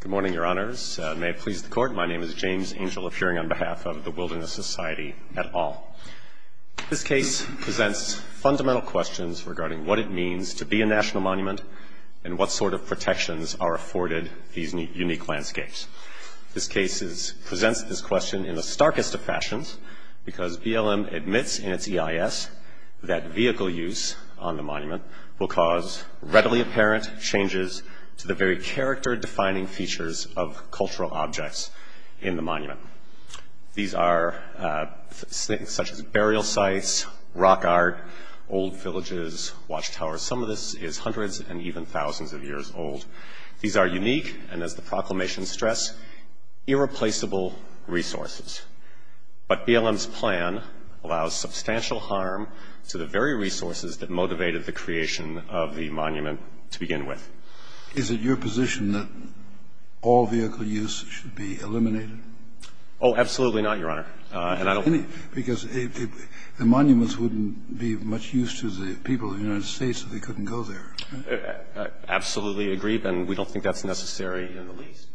Good morning, Your Honors. May it please the Court, my name is James Angel, appearing on behalf of the Wilderness Society et al. This case presents fundamental questions regarding what it means to be a national monument and what sort of protections are afforded these unique landscapes. This case presents this question in the starkest of fashions because BLM admits in its EIS that vehicle use on the monument will cause readily apparent changes to the very character-defining features of cultural objects in the monument. These are such as burial sites, rock art, old villages, watchtowers. Some of this is hundreds and even thousands of years old. These are unique and, as the proclamation stressed, irreplaceable resources. But BLM's plan allows substantial harm to the very resources that motivated the creation of the monument to begin with. Is it your position that all vehicle use should be eliminated? Oh, absolutely not, Your Honor. Because the monuments wouldn't be of much use to the people of the United States if they couldn't go there. I absolutely agree, and we don't think that's necessary in the least.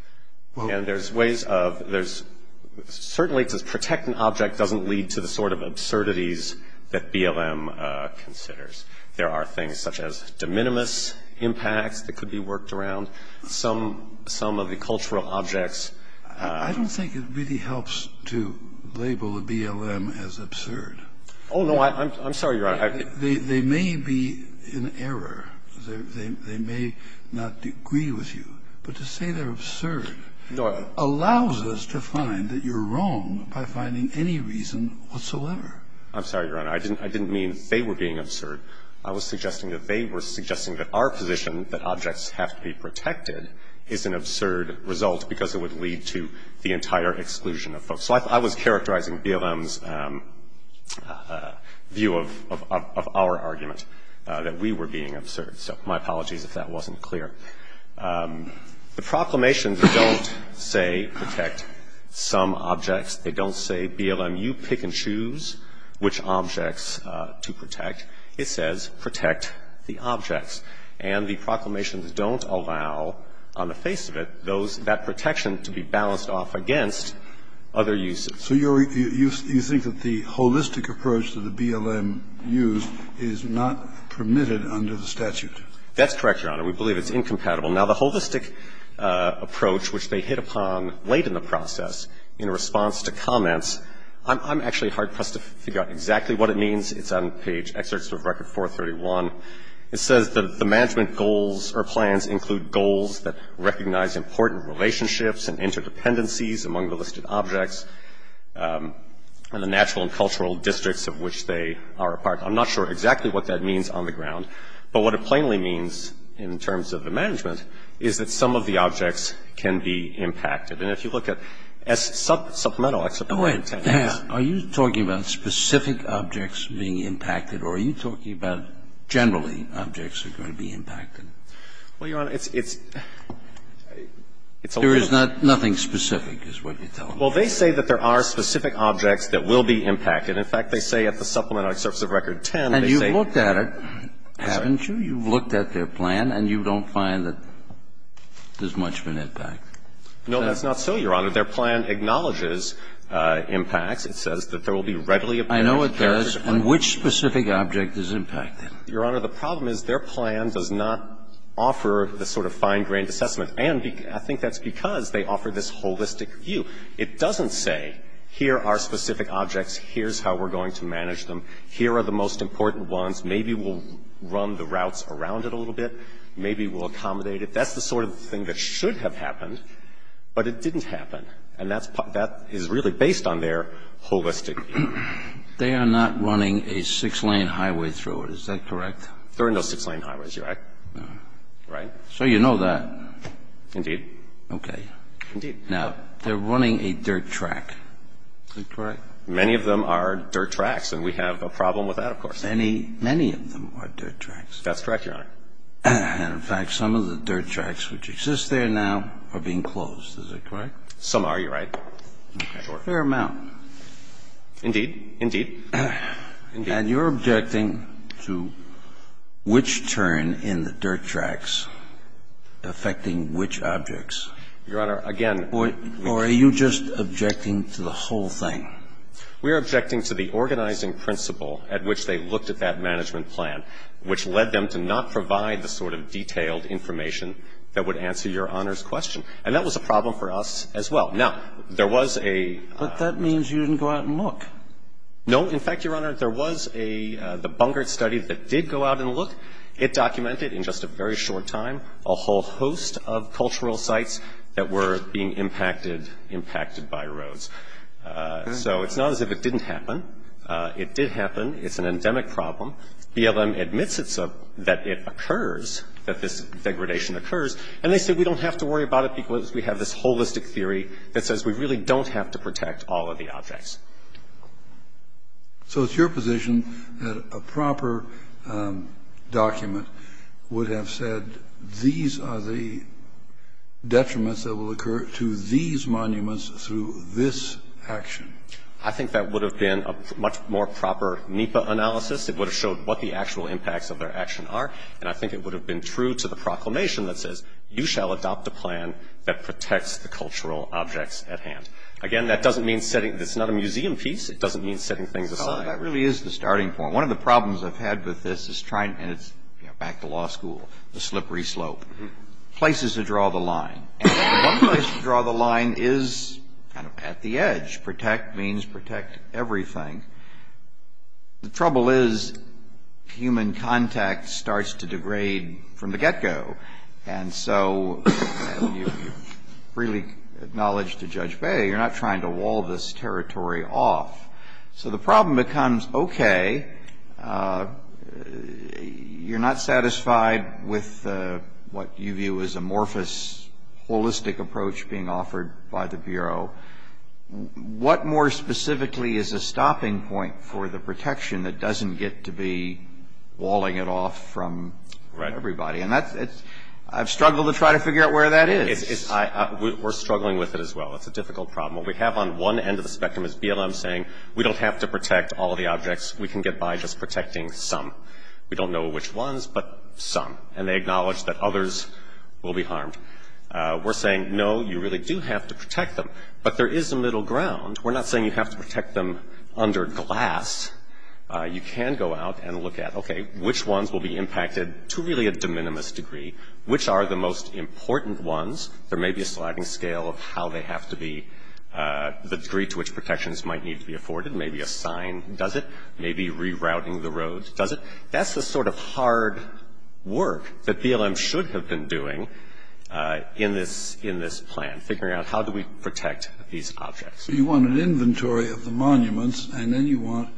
And there's ways of – certainly to protect an object doesn't lead to the sort of absurdities that BLM considers. There are things such as de minimis impacts that could be worked around. Some of the cultural objects – I don't think it really helps to label the BLM as absurd. Oh, no, I'm sorry, Your Honor. They may be in error. They may not agree with you. But to say they're absurd allows us to find that you're wrong by finding any reason whatsoever. I'm sorry, Your Honor. I didn't mean they were being absurd. I was suggesting that they were suggesting that our position that objects have to be protected is an absurd result because it would lead to the entire exclusion of folks. So I was characterizing BLM's view of our argument, that we were being absurd. So my apologies if that wasn't clear. The proclamations don't say protect some objects. They don't say, BLM, you pick and choose which objects to protect. It says protect the objects. And the proclamations don't allow, on the face of it, those – that protection to be balanced off against other uses. So you're – you think that the holistic approach that the BLM used is not permitted under the statute? That's correct, Your Honor. We believe it's incompatible. Now, the holistic approach, which they hit upon late in the process in response to comments – I'm actually hard-pressed to figure out exactly what it means. It's on page – excerpts of Record 431. It says that the management goals or plans include goals that recognize important relationships and interdependencies among the listed objects and the natural and cultural districts of which they are a part. I'm not sure exactly what that means on the ground. But what it plainly means in terms of the management is that some of the objects can be impacted. And if you look at supplemental – Are you talking about specific objects being impacted? Or are you talking about generally objects that are going to be impacted? Well, Your Honor, it's – it's a little bit – There is nothing specific is what you're telling me. Well, they say that there are specific objects that will be impacted. In fact, they say at the supplemental excerpts of Record 10, they say – And you've looked at it, haven't you? You've looked at their plan, and you don't find that there's much of an impact. No, that's not so, Your Honor. Their plan acknowledges impacts. It says that there will be readily – I know it does. And which specific object is impacted? Your Honor, the problem is their plan does not offer the sort of fine-grained assessment, and I think that's because they offer this holistic view. It doesn't say, here are specific objects, here's how we're going to manage them, here are the most important ones, maybe we'll run the routes around it a little bit, maybe we'll accommodate it. That's the sort of thing that should have happened, but it didn't happen. And that's – that is really based on their holistic view. They are not running a six-lane highway through it. Is that correct? They're in those six-lane highways, Your Honor. Right? So you know that. Indeed. Okay. Indeed. Now, they're running a dirt track. That's correct. Many of them are dirt tracks, and we have a problem with that, of course. Many, many of them are dirt tracks. That's correct, Your Honor. And, in fact, some of the dirt tracks which exist there now are being closed. Is that correct? Some are, Your Honor. Fair amount. Indeed. Indeed. And you're objecting to which turn in the dirt tracks affecting which objects? Your Honor, again – Or are you just objecting to the whole thing? We are objecting to the organizing principle at which they looked at that management plan, which led them to not provide the sort of detailed information that would answer Your Honor's question. And that was a problem for us as well. Now, there was a – But that means you didn't go out and look. No. In fact, Your Honor, there was a – the Bungert study that did go out and look. It documented in just a very short time a whole host of cultural sites that were being impacted – impacted by roads. So it's not as if it didn't happen. It did happen. It's an endemic problem. BLM admits it's a – that it occurs, that this degradation occurs. And they said we don't have to worry about it because we have this holistic theory that says we really don't have to protect all of the objects. So it's your position that a proper document would have said these are the detriments that will occur to these monuments through this action? I think that would have been a much more proper NEPA analysis. It would have showed what the actual impacts of their action are. And I think it would have been true to the proclamation that says you shall adopt a Again, that doesn't mean setting – it's not a museum piece. It doesn't mean setting things aside. That really is the starting point. One of the problems I've had with this is trying – and it's, you know, back to law school, the slippery slope, places to draw the line. And one place to draw the line is kind of at the edge. Protect means protect everything. The trouble is human contact starts to degrade from the get-go. And so you really acknowledge to Judge Bey, you're not trying to wall this territory off. So the problem becomes, okay, you're not satisfied with what you view as amorphous, holistic approach being offered by the Bureau. What more specifically is a stopping point for the protection that doesn't get to be walling it off from everybody? And that's – I've struggled to try to figure out where that is. We're struggling with it as well. It's a difficult problem. What we have on one end of the spectrum is BLM saying we don't have to protect all the objects. We can get by just protecting some. We don't know which ones, but some. And they acknowledge that others will be harmed. We're saying, no, you really do have to protect them. But there is a middle ground. We're not saying you have to protect them under glass. You can go out and look at, okay, which ones will be impacted to really a de minimis degree. Which are the most important ones? There may be a sliding scale of how they have to be, the degree to which protections might need to be afforded. Maybe a sign does it. Maybe rerouting the road does it. That's the sort of hard work that BLM should have been doing in this plan, figuring out how do we protect these objects. So you want an inventory of the monuments, and then you want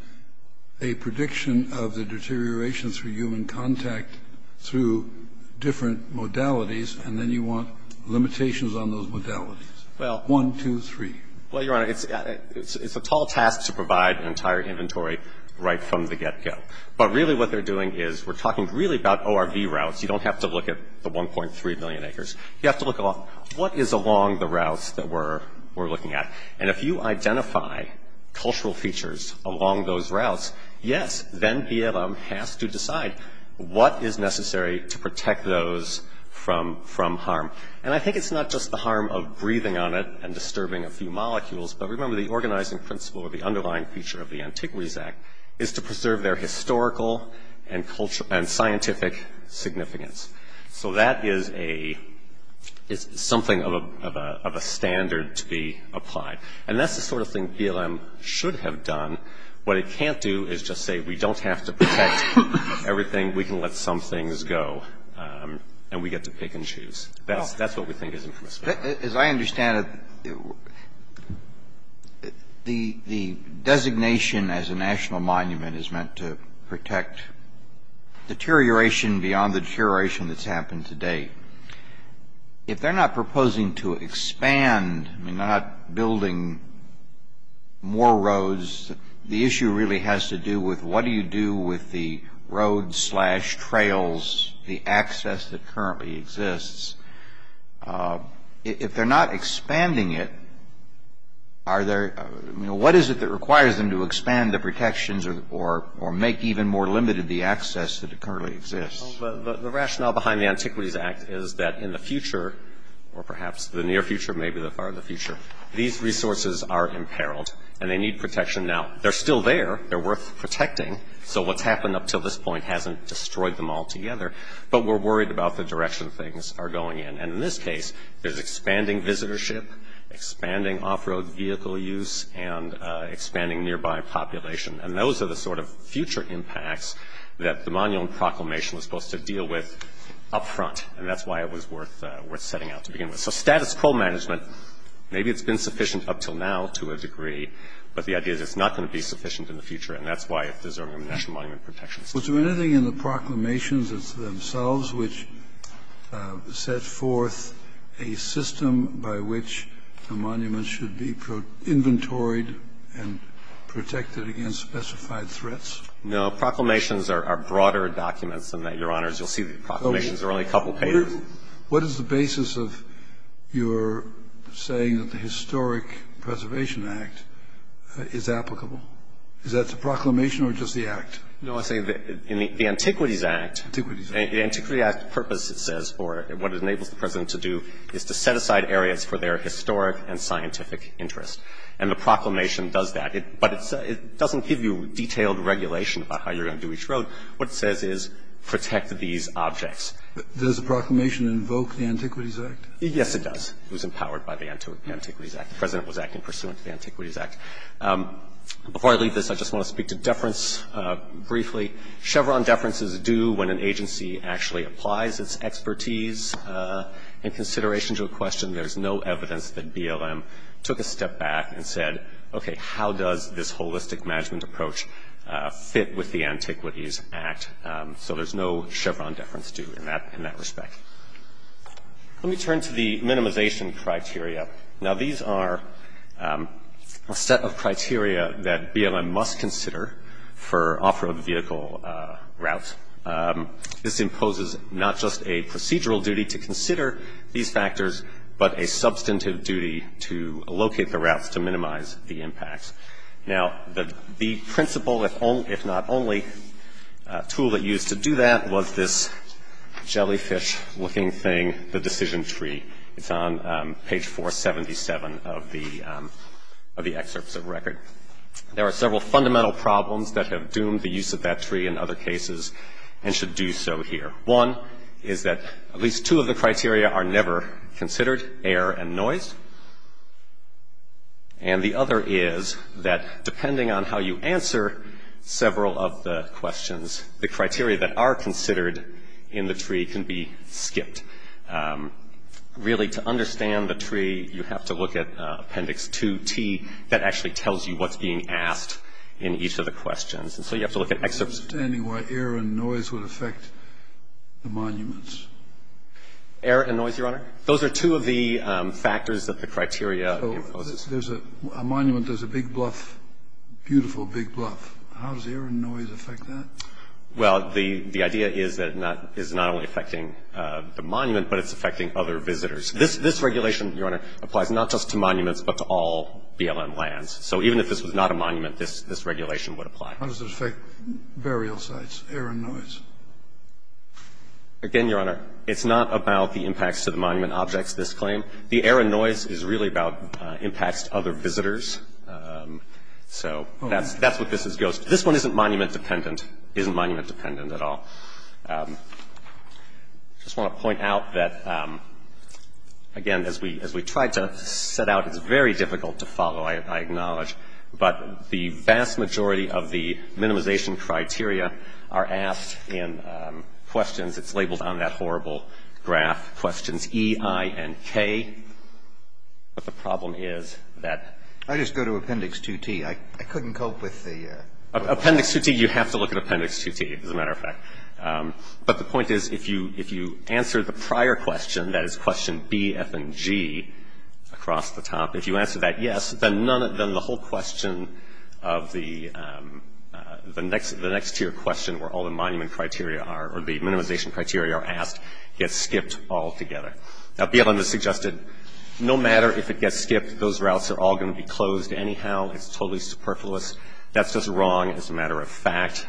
a prediction of the deterioration through human contact through different modalities, and then you want limitations on those modalities. Well. One, two, three. Well, Your Honor, it's a tall task to provide an entire inventory right from the get-go. But really what they're doing is we're talking really about ORV routes. You don't have to look at the 1.3 million acres. You have to look at what is along the routes that we're looking at. And if you identify cultural features along those routes, yes, then BLM has to decide what is necessary to protect those from harm. And I think it's not just the harm of breathing on it and disturbing a few molecules, but remember the organizing principle of the underlying feature of the Antiquities Act is to preserve their historical and scientific significance. So that is a – it's something of a standard to be applied. And that's the sort of thing BLM should have done. What it can't do is just say we don't have to protect everything. We can let some things go, and we get to pick and choose. That's what we think is impromptu. As I understand it, the designation as a national monument is meant to protect deterioration beyond the deterioration that's happened to date. If they're not proposing to expand, not building more roads, the issue really has to do with what do you do with the roads slash trails, the access that currently exists. If they're not expanding it, are there – what is it that requires them to expand the protections or make even more limited the access that currently exists? The rationale behind the Antiquities Act is that in the future, or perhaps the near future, maybe the far future, these resources are imperiled, and they need protection. Now, they're still there. They're worth protecting. So what's happened up to this point hasn't destroyed them altogether, but we're worried about the direction things are going in. And in this case, there's expanding visitorship, expanding off-road vehicle use, and expanding nearby population. And those are the sort of future impacts that the Monument Proclamation was supposed to deal with up front, and that's why it was worth setting out to begin with. So status quo management, maybe it's been sufficient up until now to a degree, but the idea is it's not going to be sufficient in the future, and that's why it deserves a national monument protection. Was there anything in the proclamations themselves which set forth a system by which a monument should be, quote, inventoried and protected against specified threats? No. Proclamations are broader documents than that, Your Honors. You'll see the proclamations are only a couple pages. What is the basis of your saying that the Historic Preservation Act is applicable? Is that the proclamation or just the act? No, I say that in the Antiquities Act. Antiquities Act. The Antiquities Act purpose, it says, or what it enables the President to do is to set aside areas for their historic and scientific interest. And the proclamation does that. But it doesn't give you detailed regulation about how you're going to do each road. What it says is protect these objects. Does the proclamation invoke the Antiquities Act? Yes, it does. It was empowered by the Antiquities Act. The President was acting pursuant to the Antiquities Act. Before I leave this, I just want to speak to deference briefly. Chevron deference is due when an agency actually applies its expertise in consideration to a question. There's no evidence that BLM took a step back and said, okay, how does this holistic management approach fit with the Antiquities Act? So there's no Chevron deference due in that respect. Let me turn to the minimization criteria. Now, these are a set of criteria that BLM must consider for off-road vehicle routes. This imposes not just a procedural duty to consider these factors, but a substantive duty to locate the routes to minimize the impacts. Now, the principal, if not only, tool that used to do that was this jellyfish-looking thing, the decision tree. It's on page 477 of the excerpts of the record. There are several fundamental problems that have doomed the use of that tree in other cases and should do so here. One is that at least two of the criteria are never considered, air and noise. And the other is that depending on how you answer several of the questions, the criteria that are considered in the tree can be skipped. Really, to understand the tree, you have to look at Appendix 2T. That actually tells you what's being asked in each of the questions. And so you have to look at excerpts. Scalia. I'm not understanding why air and noise would affect the monuments. Rosenkranz. Air and noise, Your Honor? Those are two of the factors that the criteria imposes. Scalia. So there's a monument, there's a big bluff, beautiful big bluff. How does air and noise affect that? Rosenkranz. Well, the idea is that it's not only affecting the monument, but it's affecting other visitors. This regulation, Your Honor, applies not just to monuments, but to all BLM lands. So even if this was not a monument, this regulation would apply. Scalia. How does it affect burial sites, air and noise? Rosenkranz. Again, Your Honor, it's not about the impacts to the monument objects, this claim. The air and noise is really about impacts to other visitors. So that's what this goes to. This one isn't monument-dependent. It isn't monument-dependent at all. I just want to point out that, again, as we tried to set out, it's very difficult to follow, I acknowledge. But the vast majority of the minimization criteria are asked in questions. It's labeled on that horrible graph, questions E, I, and K. But the problem is that I just go to appendix 2T. I couldn't cope with the Appendix 2T, you have to look at appendix 2T, as a matter of fact. But the point is, if you answer the prior question, that is question B, F, and G, across the top, if you answer that yes, then the whole question of the next tier question, where all the monument criteria are, or the minimization criteria are asked, gets skipped altogether. Now, BLM has suggested no matter if it gets skipped, those routes are all going to be closed anyhow. It's totally superfluous. That's just wrong as a matter of fact.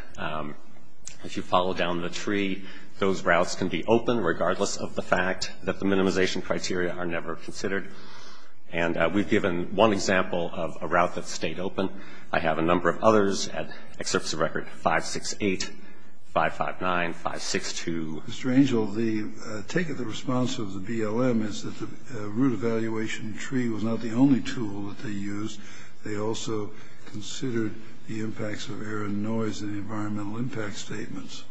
If you follow down the tree, those routes can be open, regardless of the fact that the minimization criteria are never considered. And we've given one example of a route that stayed open. I have a number of others at, at surface of record, 568, 559, 562. Mr. Angel, the take of the response of the BLM is that the root evaluation tree was not the only tool that they used. They also considered the impacts of air and noise in the environmental impact statements.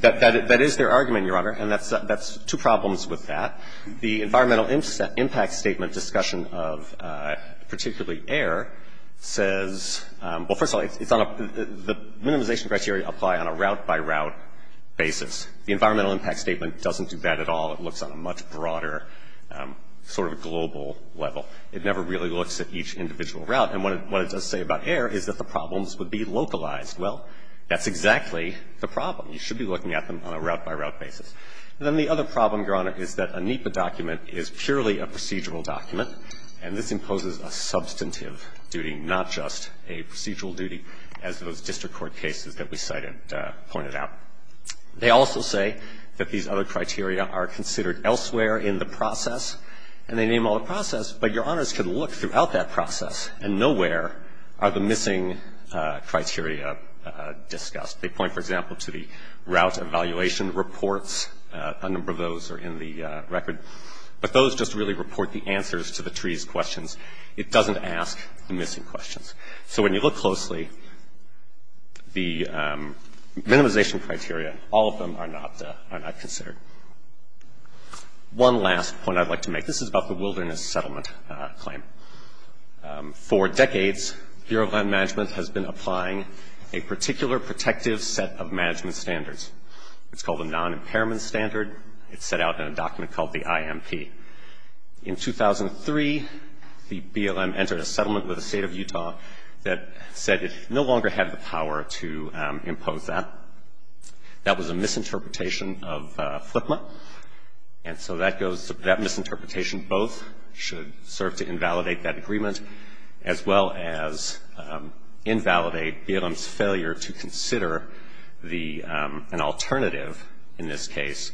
That is their argument, Your Honor, and that's two problems with that. The environmental impact statement discussion of particularly air says, well, first of all, it's on a the minimization criteria apply on a route-by-route basis. The environmental impact statement doesn't do that at all. It looks on a much broader sort of global level. It never really looks at each individual route. And what it does say about air is that the problems would be localized. Well, that's exactly the problem. You should be looking at them on a route-by-route basis. And then the other problem, Your Honor, is that a NEPA document is purely a procedural document, and this imposes a substantive duty, not just a procedural duty, as those district court cases that we cited pointed out. They also say that these other criteria are considered elsewhere in the process, and they name all the process, but Your Honors could look throughout that process and nowhere are the missing criteria discussed. They point, for example, to the route evaluation reports. A number of those are in the record. But those just really report the answers to the trees questions. It doesn't ask the missing questions. So when you look closely, the minimization criteria, all of them are not considered. One last point I'd like to make. This is about the wilderness settlement claim. For decades, Bureau of Land Management has been applying a particular protective set of management standards. It's called the non-impairment standard. It's set out in a document called the IMP. In 2003, the BLM entered a settlement with the State of Utah that said it no longer had the power to impose that. That was a misinterpretation of FLIPMA, and so that goes to that misinterpretation both should serve to invalidate that agreement as well as invalidate BLM's failure to consider the an alternative in this case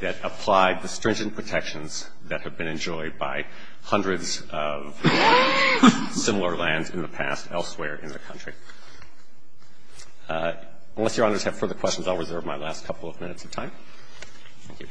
that applied the stringent protections that have been enjoyed by hundreds of similar lands in the past elsewhere in the country. Unless Your Honors have further questions, I'll reserve my last couple of minutes of time. Thank you.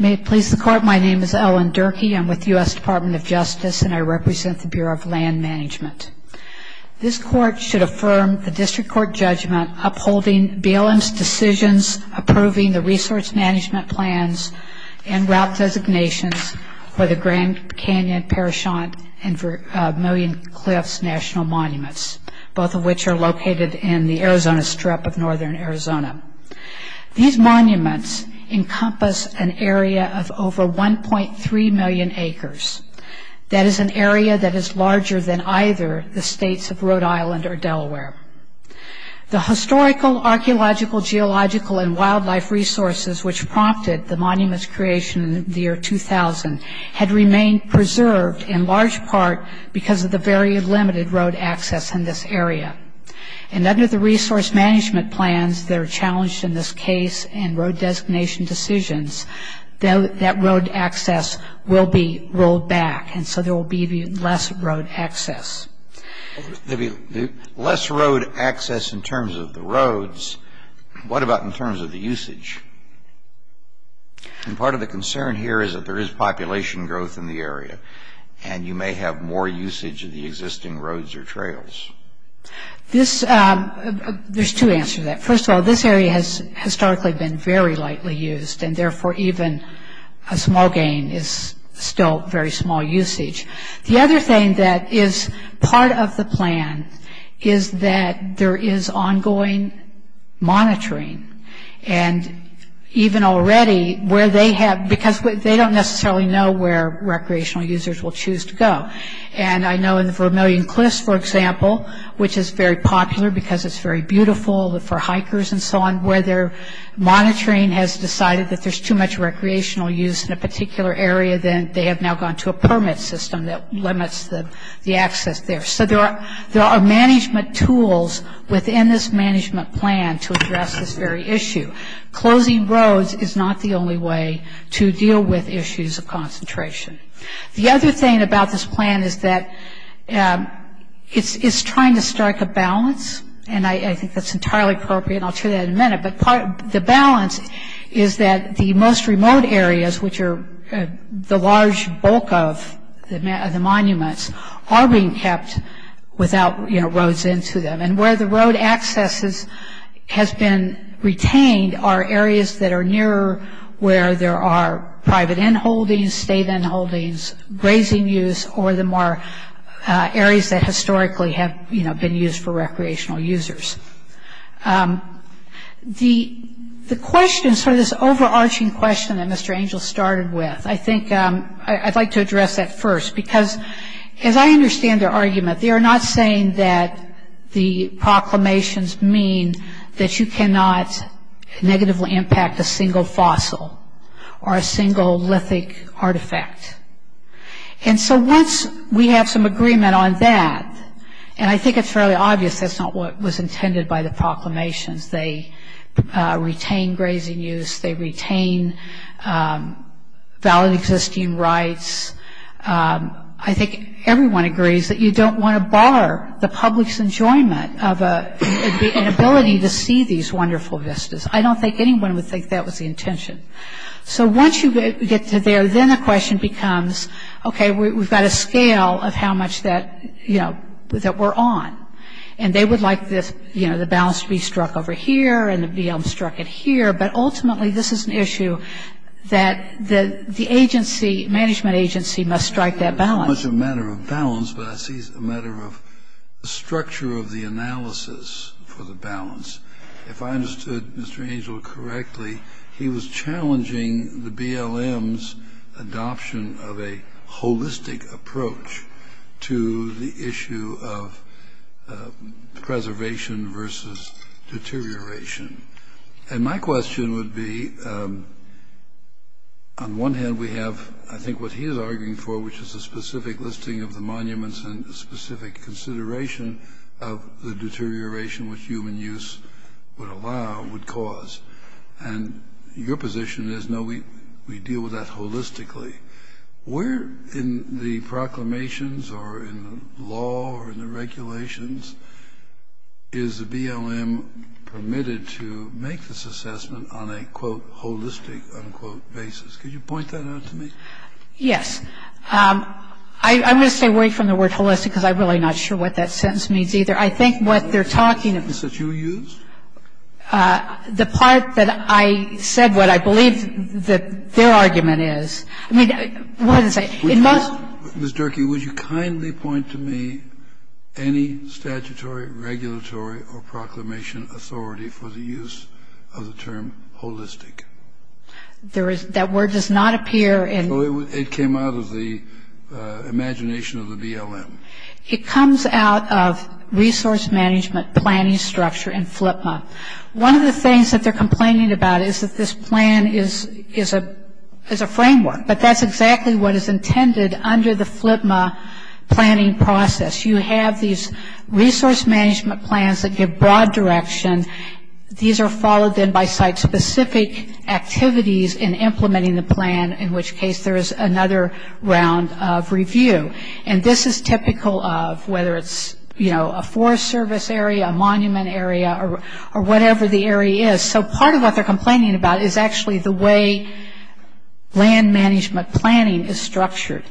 May it please the Court, my name is Ellen Durkee. I'm with the U.S. Department of Justice, and I represent the Bureau of Land Management. This Court should affirm the District Court judgment upholding BLM's decisions, approving the resource management plans, and route designations for the Grand Canyon, Parashant, and Vermilion Cliffs National Monuments, both of which are located in the Arizona Strip of northern Arizona. These monuments encompass an area of over 1.3 million acres. That is an area that is larger than either the states of Rhode Island or Delaware. The historical, archaeological, geological, and wildlife resources which prompted the monuments creation in the year 2000 had remained preserved in large part because of the very limited road access in this area, and under the resource management plans that are challenged in this case and road designation decisions, that road access will be rolled back, and so there will be less road access. Less road access in terms of the roads, what about in terms of the usage? And part of the concern here is that there is population growth in the area, and you may have more usage of the existing roads or trails. There's two answers to that. First of all, this area has historically been very lightly used, and therefore even a small gain is still very small usage. The other thing that is part of the plan is that there is ongoing monitoring, and even already where they have, because they don't necessarily know where recreational users will choose to go, and I know in the Vermilion Cliffs, for example, which is very popular because it's very beautiful, for hikers and so on, where their monitoring has decided that there's too much recreational use in a particular area, then they have now gone to a permit system that limits the access there. So there are management tools within this management plan to address this very issue. Closing roads is not the only way to deal with issues of concentration. The other thing about this plan is that it's trying to strike a balance, and I think that's entirely appropriate, and I'll show you that in a minute, but the balance is that the most remote areas, which are the large bulk of the monuments, are being kept without roads into them, and where the road access has been retained are areas that are nearer where there are private end holdings, state end holdings, grazing use, or the more areas that historically have been used for recreational users. The question, sort of this overarching question that Mr. Angel started with, I think I'd like to address that first, because as I understand their argument, they are not saying that the proclamations mean that you cannot negatively impact a single fossil or a single lithic artifact, and so once we have some agreement on that, and I think it's fairly obvious that's not what was intended by the proclamations, they retain grazing use, they retain valid existing rights, I think everyone agrees that you don't want to bar the public's enjoyment of an ability to see these wonderful vistas. I don't think anyone would think that was the intention. So once you get to there, then the question becomes, okay, we've got a scale of how much that we're on, and they would like the balance to be struck over here and to be struck at here, but ultimately this is an issue that the management agency must strike that balance. It's not much a matter of balance, but I see it as a matter of the structure of the analysis for the balance. If I understood Mr. Angel correctly, he was challenging the BLM's adoption of a holistic approach to the issue of preservation versus deterioration. And my question would be, on one hand we have, I think what he is arguing for, which is a specific listing of the monuments and a specific consideration of the deterioration which human use would allow, would cause. And your position is, no, we deal with that holistically. Where in the proclamations or in the law or in the regulations is the BLM permitted to make this assessment on a, quote, holistic, unquote, basis? Could you point that out to me? Yes. I'm going to stay away from the word holistic because I'm really not sure what that sentence means either. I think what they're talking about. The sentence that you used? The part that I said what I believe that their argument is. I mean, what is it? It must be. Ms. Durkee, would you kindly point to me any statutory, regulatory, or proclamation authority for the use of the term holistic? There is. That word does not appear in. It came out of the imagination of the BLM. It comes out of resource management planning structure in FLPMA. One of the things that they're complaining about is that this plan is a framework, but that's exactly what is intended under the FLPMA planning process. You have these resource management plans that give broad direction. These are followed then by site-specific activities in implementing the plan, in which case there is another round of review. And this is typical of whether it's, you know, a forest service area, a monument area, or whatever the area is. So part of what they're complaining about is actually the way land management planning is structured.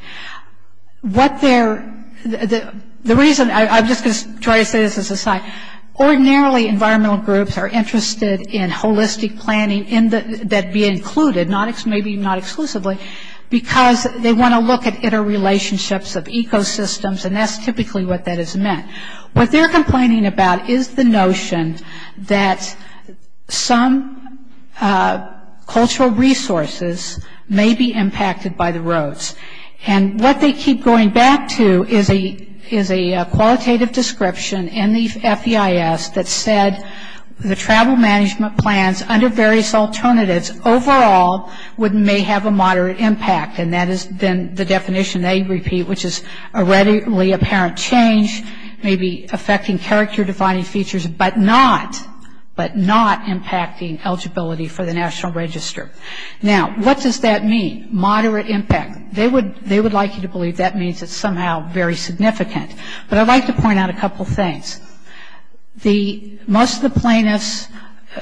The reason I'm just going to try to say this as an aside, ordinarily environmental groups are interested in holistic planning that be included, maybe not exclusively, because they want to look at interrelationships of ecosystems, and that's typically what that is meant. What they're complaining about is the notion that some cultural resources may be impacted by the roads. And what they keep going back to is a qualitative description in the FEIS that said, the travel management plans under various alternatives overall may have a moderate impact, and that is then the definition they repeat, which is a readily apparent change, maybe affecting character-defining features, but not impacting eligibility for the National Register. Now, what does that mean, moderate impact? They would like you to believe that means it's somehow very significant. But I'd like to point out a couple things. Most of the plaintiffs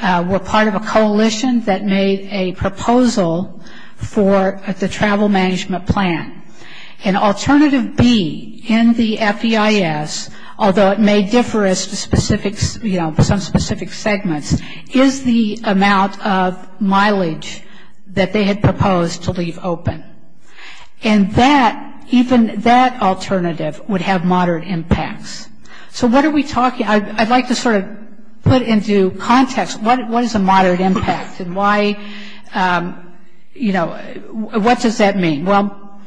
were part of a coalition that made a proposal for the travel management plan. And alternative B in the FEIS, although it may differ as to some specific segments, is the amount of mileage that they had proposed to leave open. And even that alternative would have moderate impacts. So what are we talking? I'd like to sort of put into context what is a moderate impact and what does that mean? Well,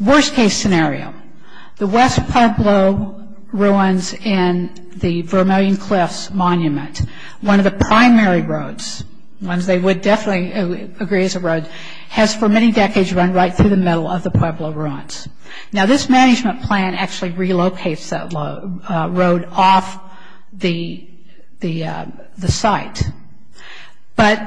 worst-case scenario, the West Pueblo ruins and the Vermilion Cliffs Monument, one of the primary roads, ones they would definitely agree is a road, has for many decades run right through the middle of the Pueblo ruins. Now, this management plan actually relocates that road off the site. But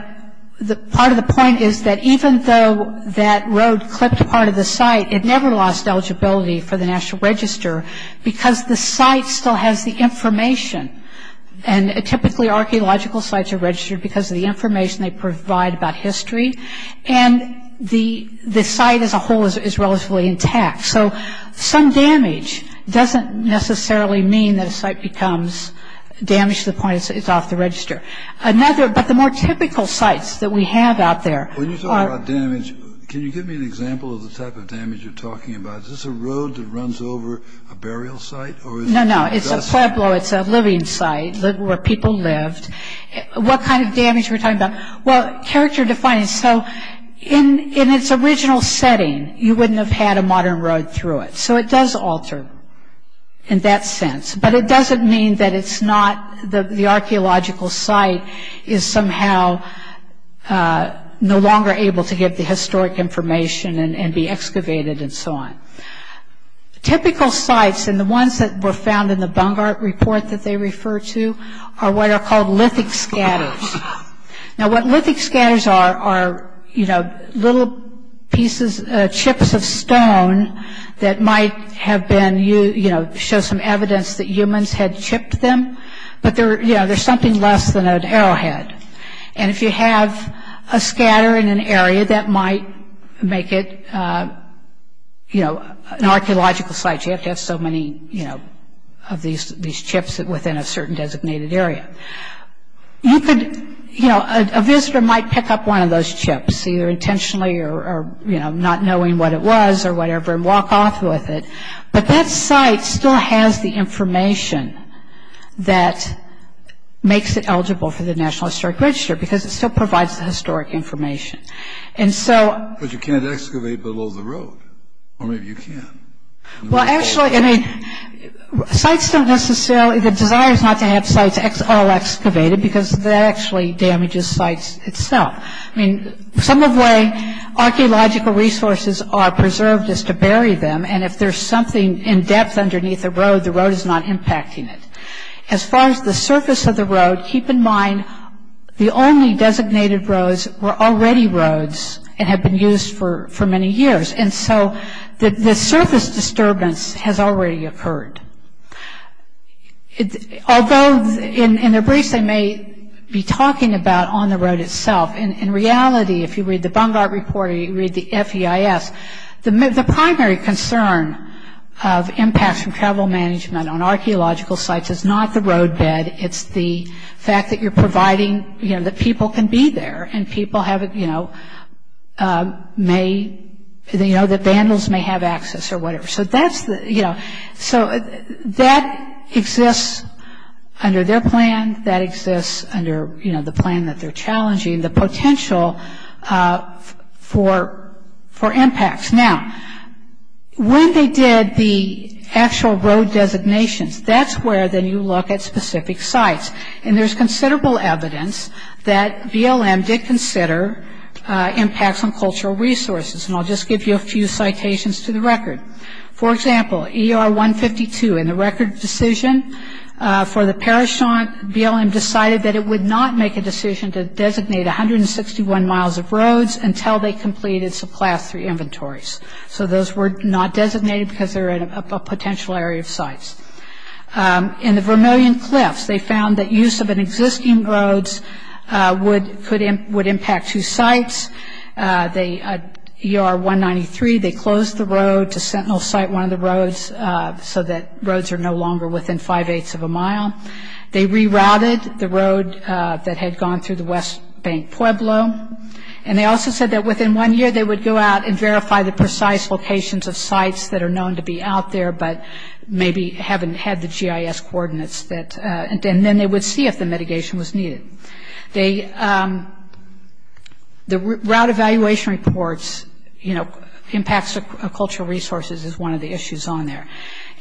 part of the point is that even though that road clipped part of the site, it never lost eligibility for the National Register because the site still has the information. And typically, archaeological sites are registered because of the information they provide about history. And the site as a whole is relatively intact. So some damage doesn't necessarily mean that a site becomes damaged to the point it's off the register. But the more typical sites that we have out there are – When you talk about damage, can you give me an example of the type of damage you're talking about? Is this a road that runs over a burial site? No, no, it's a Pueblo. It's a living site where people lived. What kind of damage are we talking about? Well, character defining. So in its original setting, you wouldn't have had a modern road through it. So it does alter in that sense. But it doesn't mean that it's not – the archaeological site is somehow no longer able to get the historic information and be excavated and so on. Typical sites, and the ones that were found in the Bungart Report that they refer to, are what are called lithic scatters. Now, what lithic scatters are, are little pieces, chips of stone that might have been – show some evidence that humans had chipped them. But they're something less than an arrowhead. And if you have a scatter in an area, that might make it an archaeological site. You have to have so many of these chips within a certain designated area. You could – you know, a visitor might pick up one of those chips, either intentionally or, you know, not knowing what it was or whatever, and walk off with it. But that site still has the information that makes it eligible for the National Historic Register because it still provides the historic information. And so – But you can't excavate below the road. Or maybe you can. Well, actually, I mean, sites don't necessarily – the desire is not to have sites all excavated because that actually damages sites itself. I mean, some of the way archaeological resources are preserved is to bury them, and if there's something in depth underneath a road, the road is not impacting it. As far as the surface of the road, keep in mind, the only designated roads were already roads and had been used for many years. And so the surface disturbance has already occurred. Although in their briefs they may be talking about on the road itself, in reality, if you read the Bungardt Report or you read the FEIS, the primary concern of impacts from travel management on archaeological sites is not the roadbed. It's the fact that you're providing – you know, that people can be there and people have – you know, may – you know, that vandals may have access or whatever. So that's the – you know, so that exists under their plan. That exists under, you know, the plan that they're challenging, the potential for impacts. Now, when they did the actual road designations, that's where, then, you look at specific sites. And there's considerable evidence that BLM did consider impacts on cultural resources. And I'll just give you a few citations to the record. For example, ER 152 in the record decision for the Parashant, BLM decided that it would not make a decision to designate 161 miles of roads until they completed some Class III inventories. So those were not designated because they're in a potential area of sites. In the Vermilion Cliffs, they found that use of an existing road would impact two sites. They – ER 193, they closed the road to Sentinel Site 1 of the roads so that roads are no longer within five-eighths of a mile. They rerouted the road that had gone through the West Bank Pueblo. And they also said that within one year, they would go out and verify the precise locations of sites that are known to be out there, but maybe haven't had the GIS coordinates that – and then they would see if the mitigation was needed. They – the route evaluation reports, you know, impacts of cultural resources is one of the issues on there.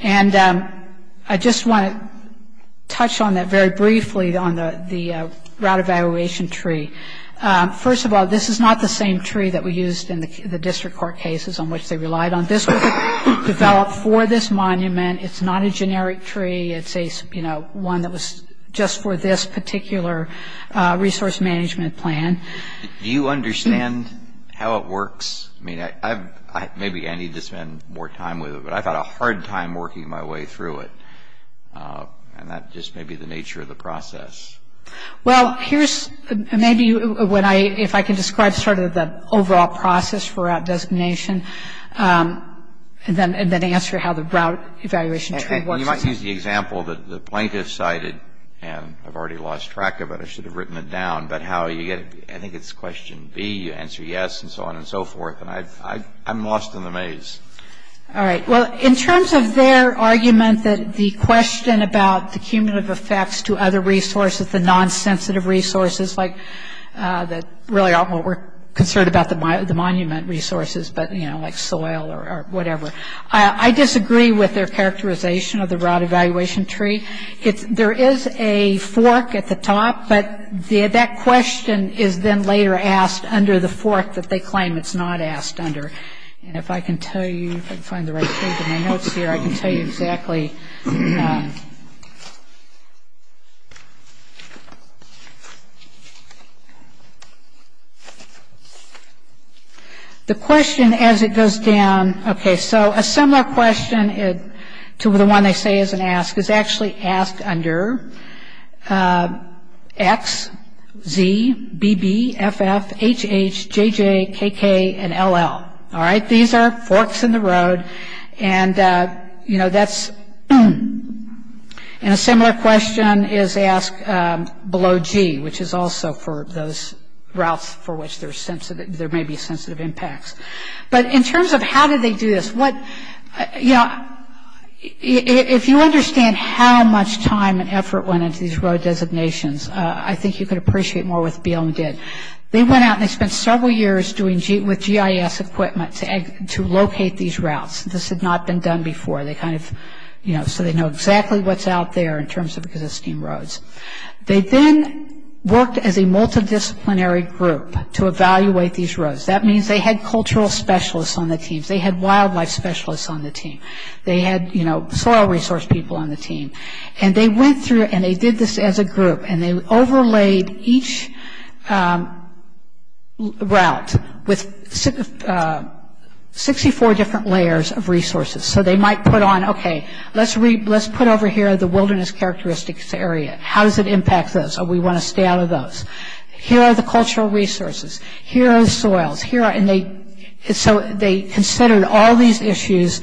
And I just want to touch on that very briefly on the route evaluation tree. First of all, this is not the same tree that we used in the district court cases on which they relied on. This was developed for this monument. It's not a generic tree. It's a, you know, one that was just for this particular resource management plan. Do you understand how it works? I mean, I've – maybe I need to spend more time with it, but I've had a hard time working my way through it. And that just may be the nature of the process. Well, here's – maybe when I – if I can describe sort of the overall process for route designation, and then answer how the route evaluation tree works. You might use the example that the plaintiff cited, and I've already lost track of it. I should have written it down. But how you get – I think it's question B. You answer yes, and so on and so forth. And I'm lost in the maze. All right. Well, in terms of their argument that the question about the cumulative effects to other resources, the non-sensitive resources like – that really aren't what we're concerned about the monument resources, but, you know, like soil or whatever. I disagree with their characterization of the route evaluation tree. There is a fork at the top, but that question is then later asked under the fork that they claim it's not asked under. And if I can tell you – if I can find the right shape of my notes here, I can tell you exactly. The question, as it goes down – okay, so a similar question to the one they say isn't asked, is actually asked under X, Z, BB, FF, HH, JJ, KK, and LL. All right? These are forks in the road, and, you know, that's – and a similar question is asked below G, which is also for those routes for which there may be sensitive impacts. But in terms of how do they do this, what – you know, if you understand how much time and effort went into these road designations, I think you could appreciate more what BLM did. They went out and they spent several years doing – with GIS equipment to locate these routes. This had not been done before. They kind of – you know, so they know exactly what's out there in terms of existing roads. They then worked as a multidisciplinary group to evaluate these roads. That means they had cultural specialists on the team. They had wildlife specialists on the team. They had, you know, soil resource people on the team. And they went through and they did this as a group, and they overlaid each route with 64 different layers of resources. So they might put on, okay, let's put over here the wilderness characteristics area. How does it impact those? Oh, we want to stay out of those. Here are the cultural resources. Here are the soils. Here are – and they – so they considered all these issues.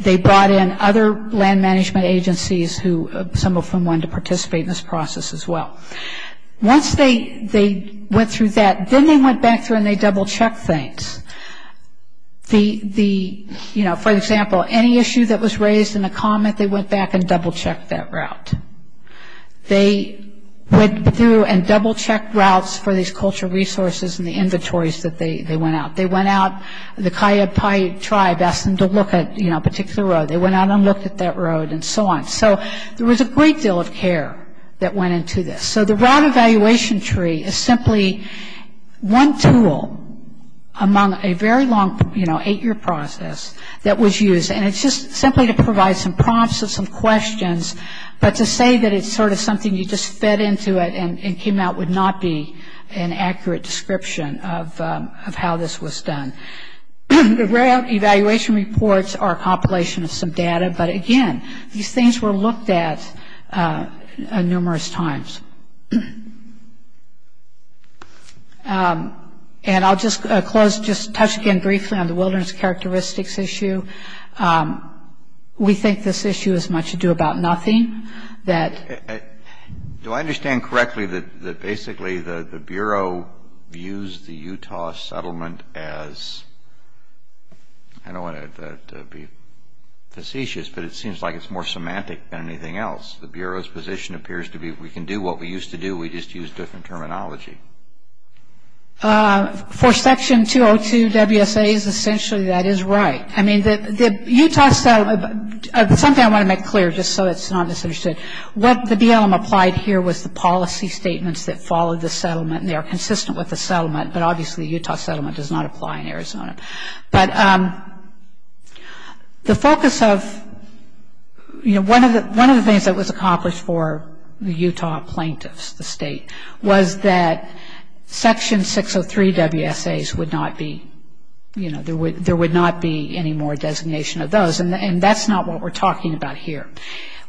They brought in other land management agencies who – some of them wanted to participate in this process as well. Once they went through that, then they went back through and they double-checked things. The – you know, for example, any issue that was raised in a comment, they went back and double-checked that route. They went through and double-checked routes for these cultural resources and the inventories that they went out. They went out – the Kayapai tribe asked them to look at, you know, a particular road. They went out and looked at that road and so on. So there was a great deal of care that went into this. So the route evaluation tree is simply one tool among a very long, you know, eight-year process that was used, and it's just simply to provide some prompts and some questions, but to say that it's sort of something you just fed into it and came out would not be an accurate description of how this was done. The route evaluation reports are a compilation of some data, but again, these things were looked at numerous times. And I'll just close – just touch again briefly on the wilderness characteristics issue. We think this issue has much to do about nothing, that – Do I understand correctly that basically the Bureau views the Utah settlement as – I don't want to be facetious, but it seems like it's more semantic than anything else. The Bureau's position appears to be we can do what we used to do. We just use different terminology. For Section 202 WSAs, essentially that is right. I mean, the Utah – something I want to make clear, just so it's not misunderstood. What the BLM applied here was the policy statements that followed the settlement, and they are consistent with the settlement, but obviously the Utah settlement does not apply in Arizona. But the focus of – one of the things that was accomplished for the Utah plaintiffs, the state, was that Section 603 WSAs would not be – there would not be any more designation of those, and that's not what we're talking about here.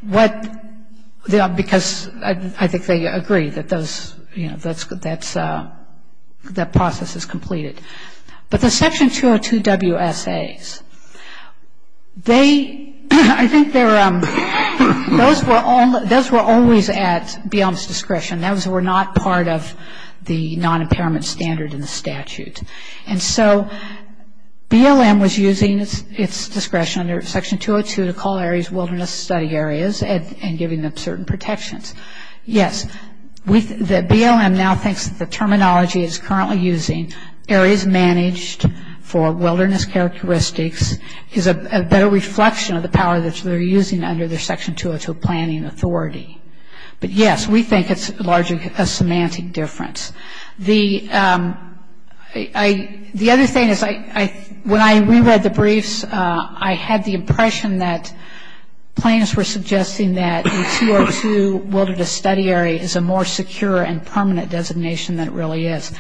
Because I think they agree that those – that process is completed. But the Section 202 WSAs, they – I think they're – those were always at BLM's discretion. Those were not part of the non-impairment standard in the statute. And so BLM was using its discretion under Section 202 to call areas wilderness study areas and giving them certain protections. Yes, the BLM now thinks that the terminology it is currently using, areas managed for wilderness characteristics, is a better reflection of the power that they're using under their Section 202 planning authority. But yes, we think it's largely a semantic difference. The other thing is when I reread the briefs, I had the impression that plaintiffs were suggesting that the 202 wilderness study area is a more secure and permanent designation than it really is.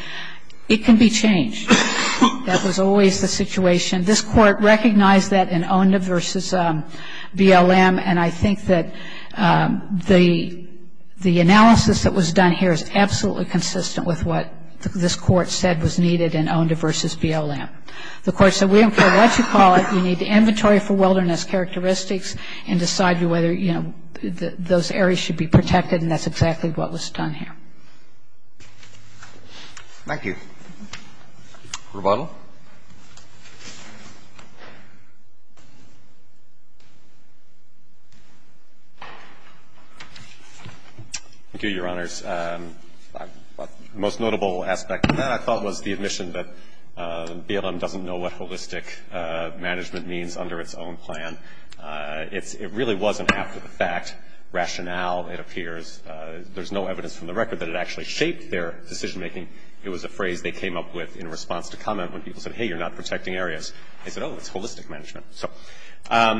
It can be changed. That was always the situation. This Court recognized that in Onda v. BLM, and I think that the analysis that was done here is absolutely consistent with what this Court said was needed in Onda v. BLM. The Court said we don't care what you call it. We need inventory for wilderness characteristics and decide whether, you know, those areas should be protected, and that's exactly what was done here. Thank you. Rebuttal. Thank you, Your Honors. The most notable aspect of that, I thought, was the admission that BLM doesn't know what holistic management means under its own plan. It really wasn't after the fact. Rationale, it appears. There's no evidence from the record that it actually shaped their decision-making. It was a phrase they came up with in response to comment when people said, hey, you're not protecting areas. They said, oh, it's holistic management. So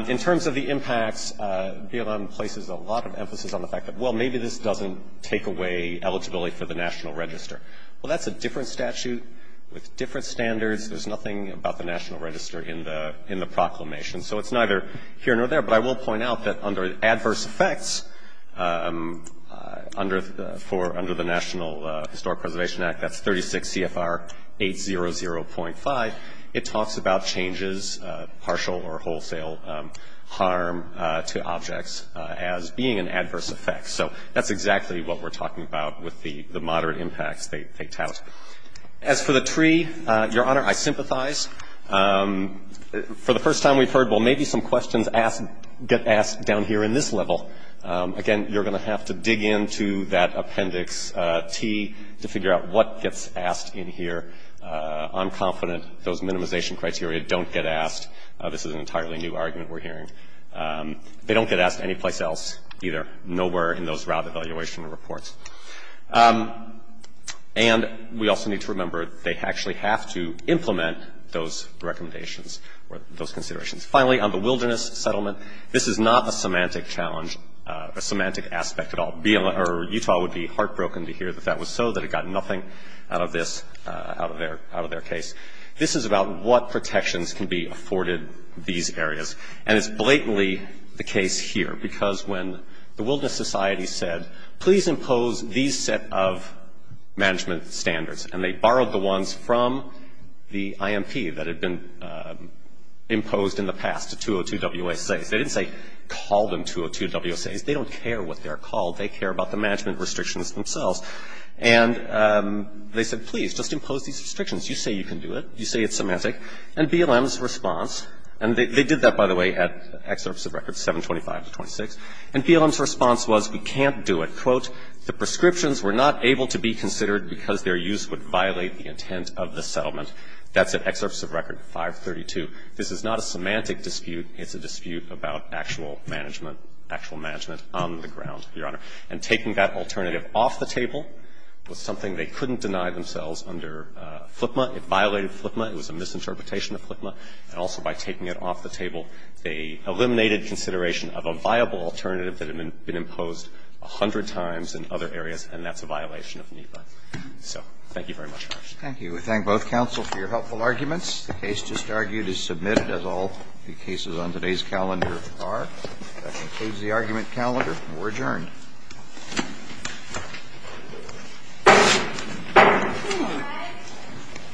in terms of the impacts, BLM places a lot of emphasis on the fact that, well, maybe this doesn't take away eligibility for the National Register. Well, that's a different statute with different standards. There's nothing about the National Register in the proclamation. So it's neither here nor there. But I will point out that under adverse effects, under the National Historic Preservation Act, that's 36 CFR 800.5, it talks about changes, partial or wholesale harm to objects as being an adverse effect. So that's exactly what we're talking about with the moderate impacts they tout. As for the tree, Your Honor, I sympathize. For the first time we've heard, well, maybe some questions get asked down here in this level. Again, you're going to have to dig into that appendix T to figure out what gets asked in here. I'm confident those minimization criteria don't get asked. This is an entirely new argument we're hearing. They don't get asked anyplace else either, nowhere in those route evaluation reports. And we also need to remember they actually have to implement those recommendations or those considerations. Finally, on the wilderness settlement, this is not a semantic challenge, a semantic aspect at all. Utah would be heartbroken to hear that that was so, that it got nothing out of this, out of their case. This is about what protections can be afforded these areas. And it's blatantly the case here because when the Wilderness Society said, please impose these set of management standards, and they borrowed the ones from the IMP that had been imposed in the past, the 202 WSAs. They didn't say call them 202 WSAs. They don't care what they're called. They care about the management restrictions themselves. And they said, please, just impose these restrictions. You say you can do it. You say it's semantic. And BLM's response, and they did that, by the way, at Excerpts of Record 725 to 26. And BLM's response was, we can't do it. Quote, the prescriptions were not able to be considered because their use would violate the intent of the settlement. That's at Excerpts of Record 532. This is not a semantic dispute. It's a dispute about actual management, actual management on the ground, Your Honor. And taking that alternative off the table was something they couldn't deny themselves under FLIPMA. It violated FLIPMA. It was a misinterpretation of FLIPMA. And also by taking it off the table, they eliminated consideration of a viable alternative that had been imposed a hundred times in other areas, and that's a violation of NEPA. So thank you very much, Your Honor. Roberts. Thank you. We thank both counsel for your helpful arguments. The case just argued is submitted as all the cases on today's calendar are. That concludes the argument calendar, and we're adjourned.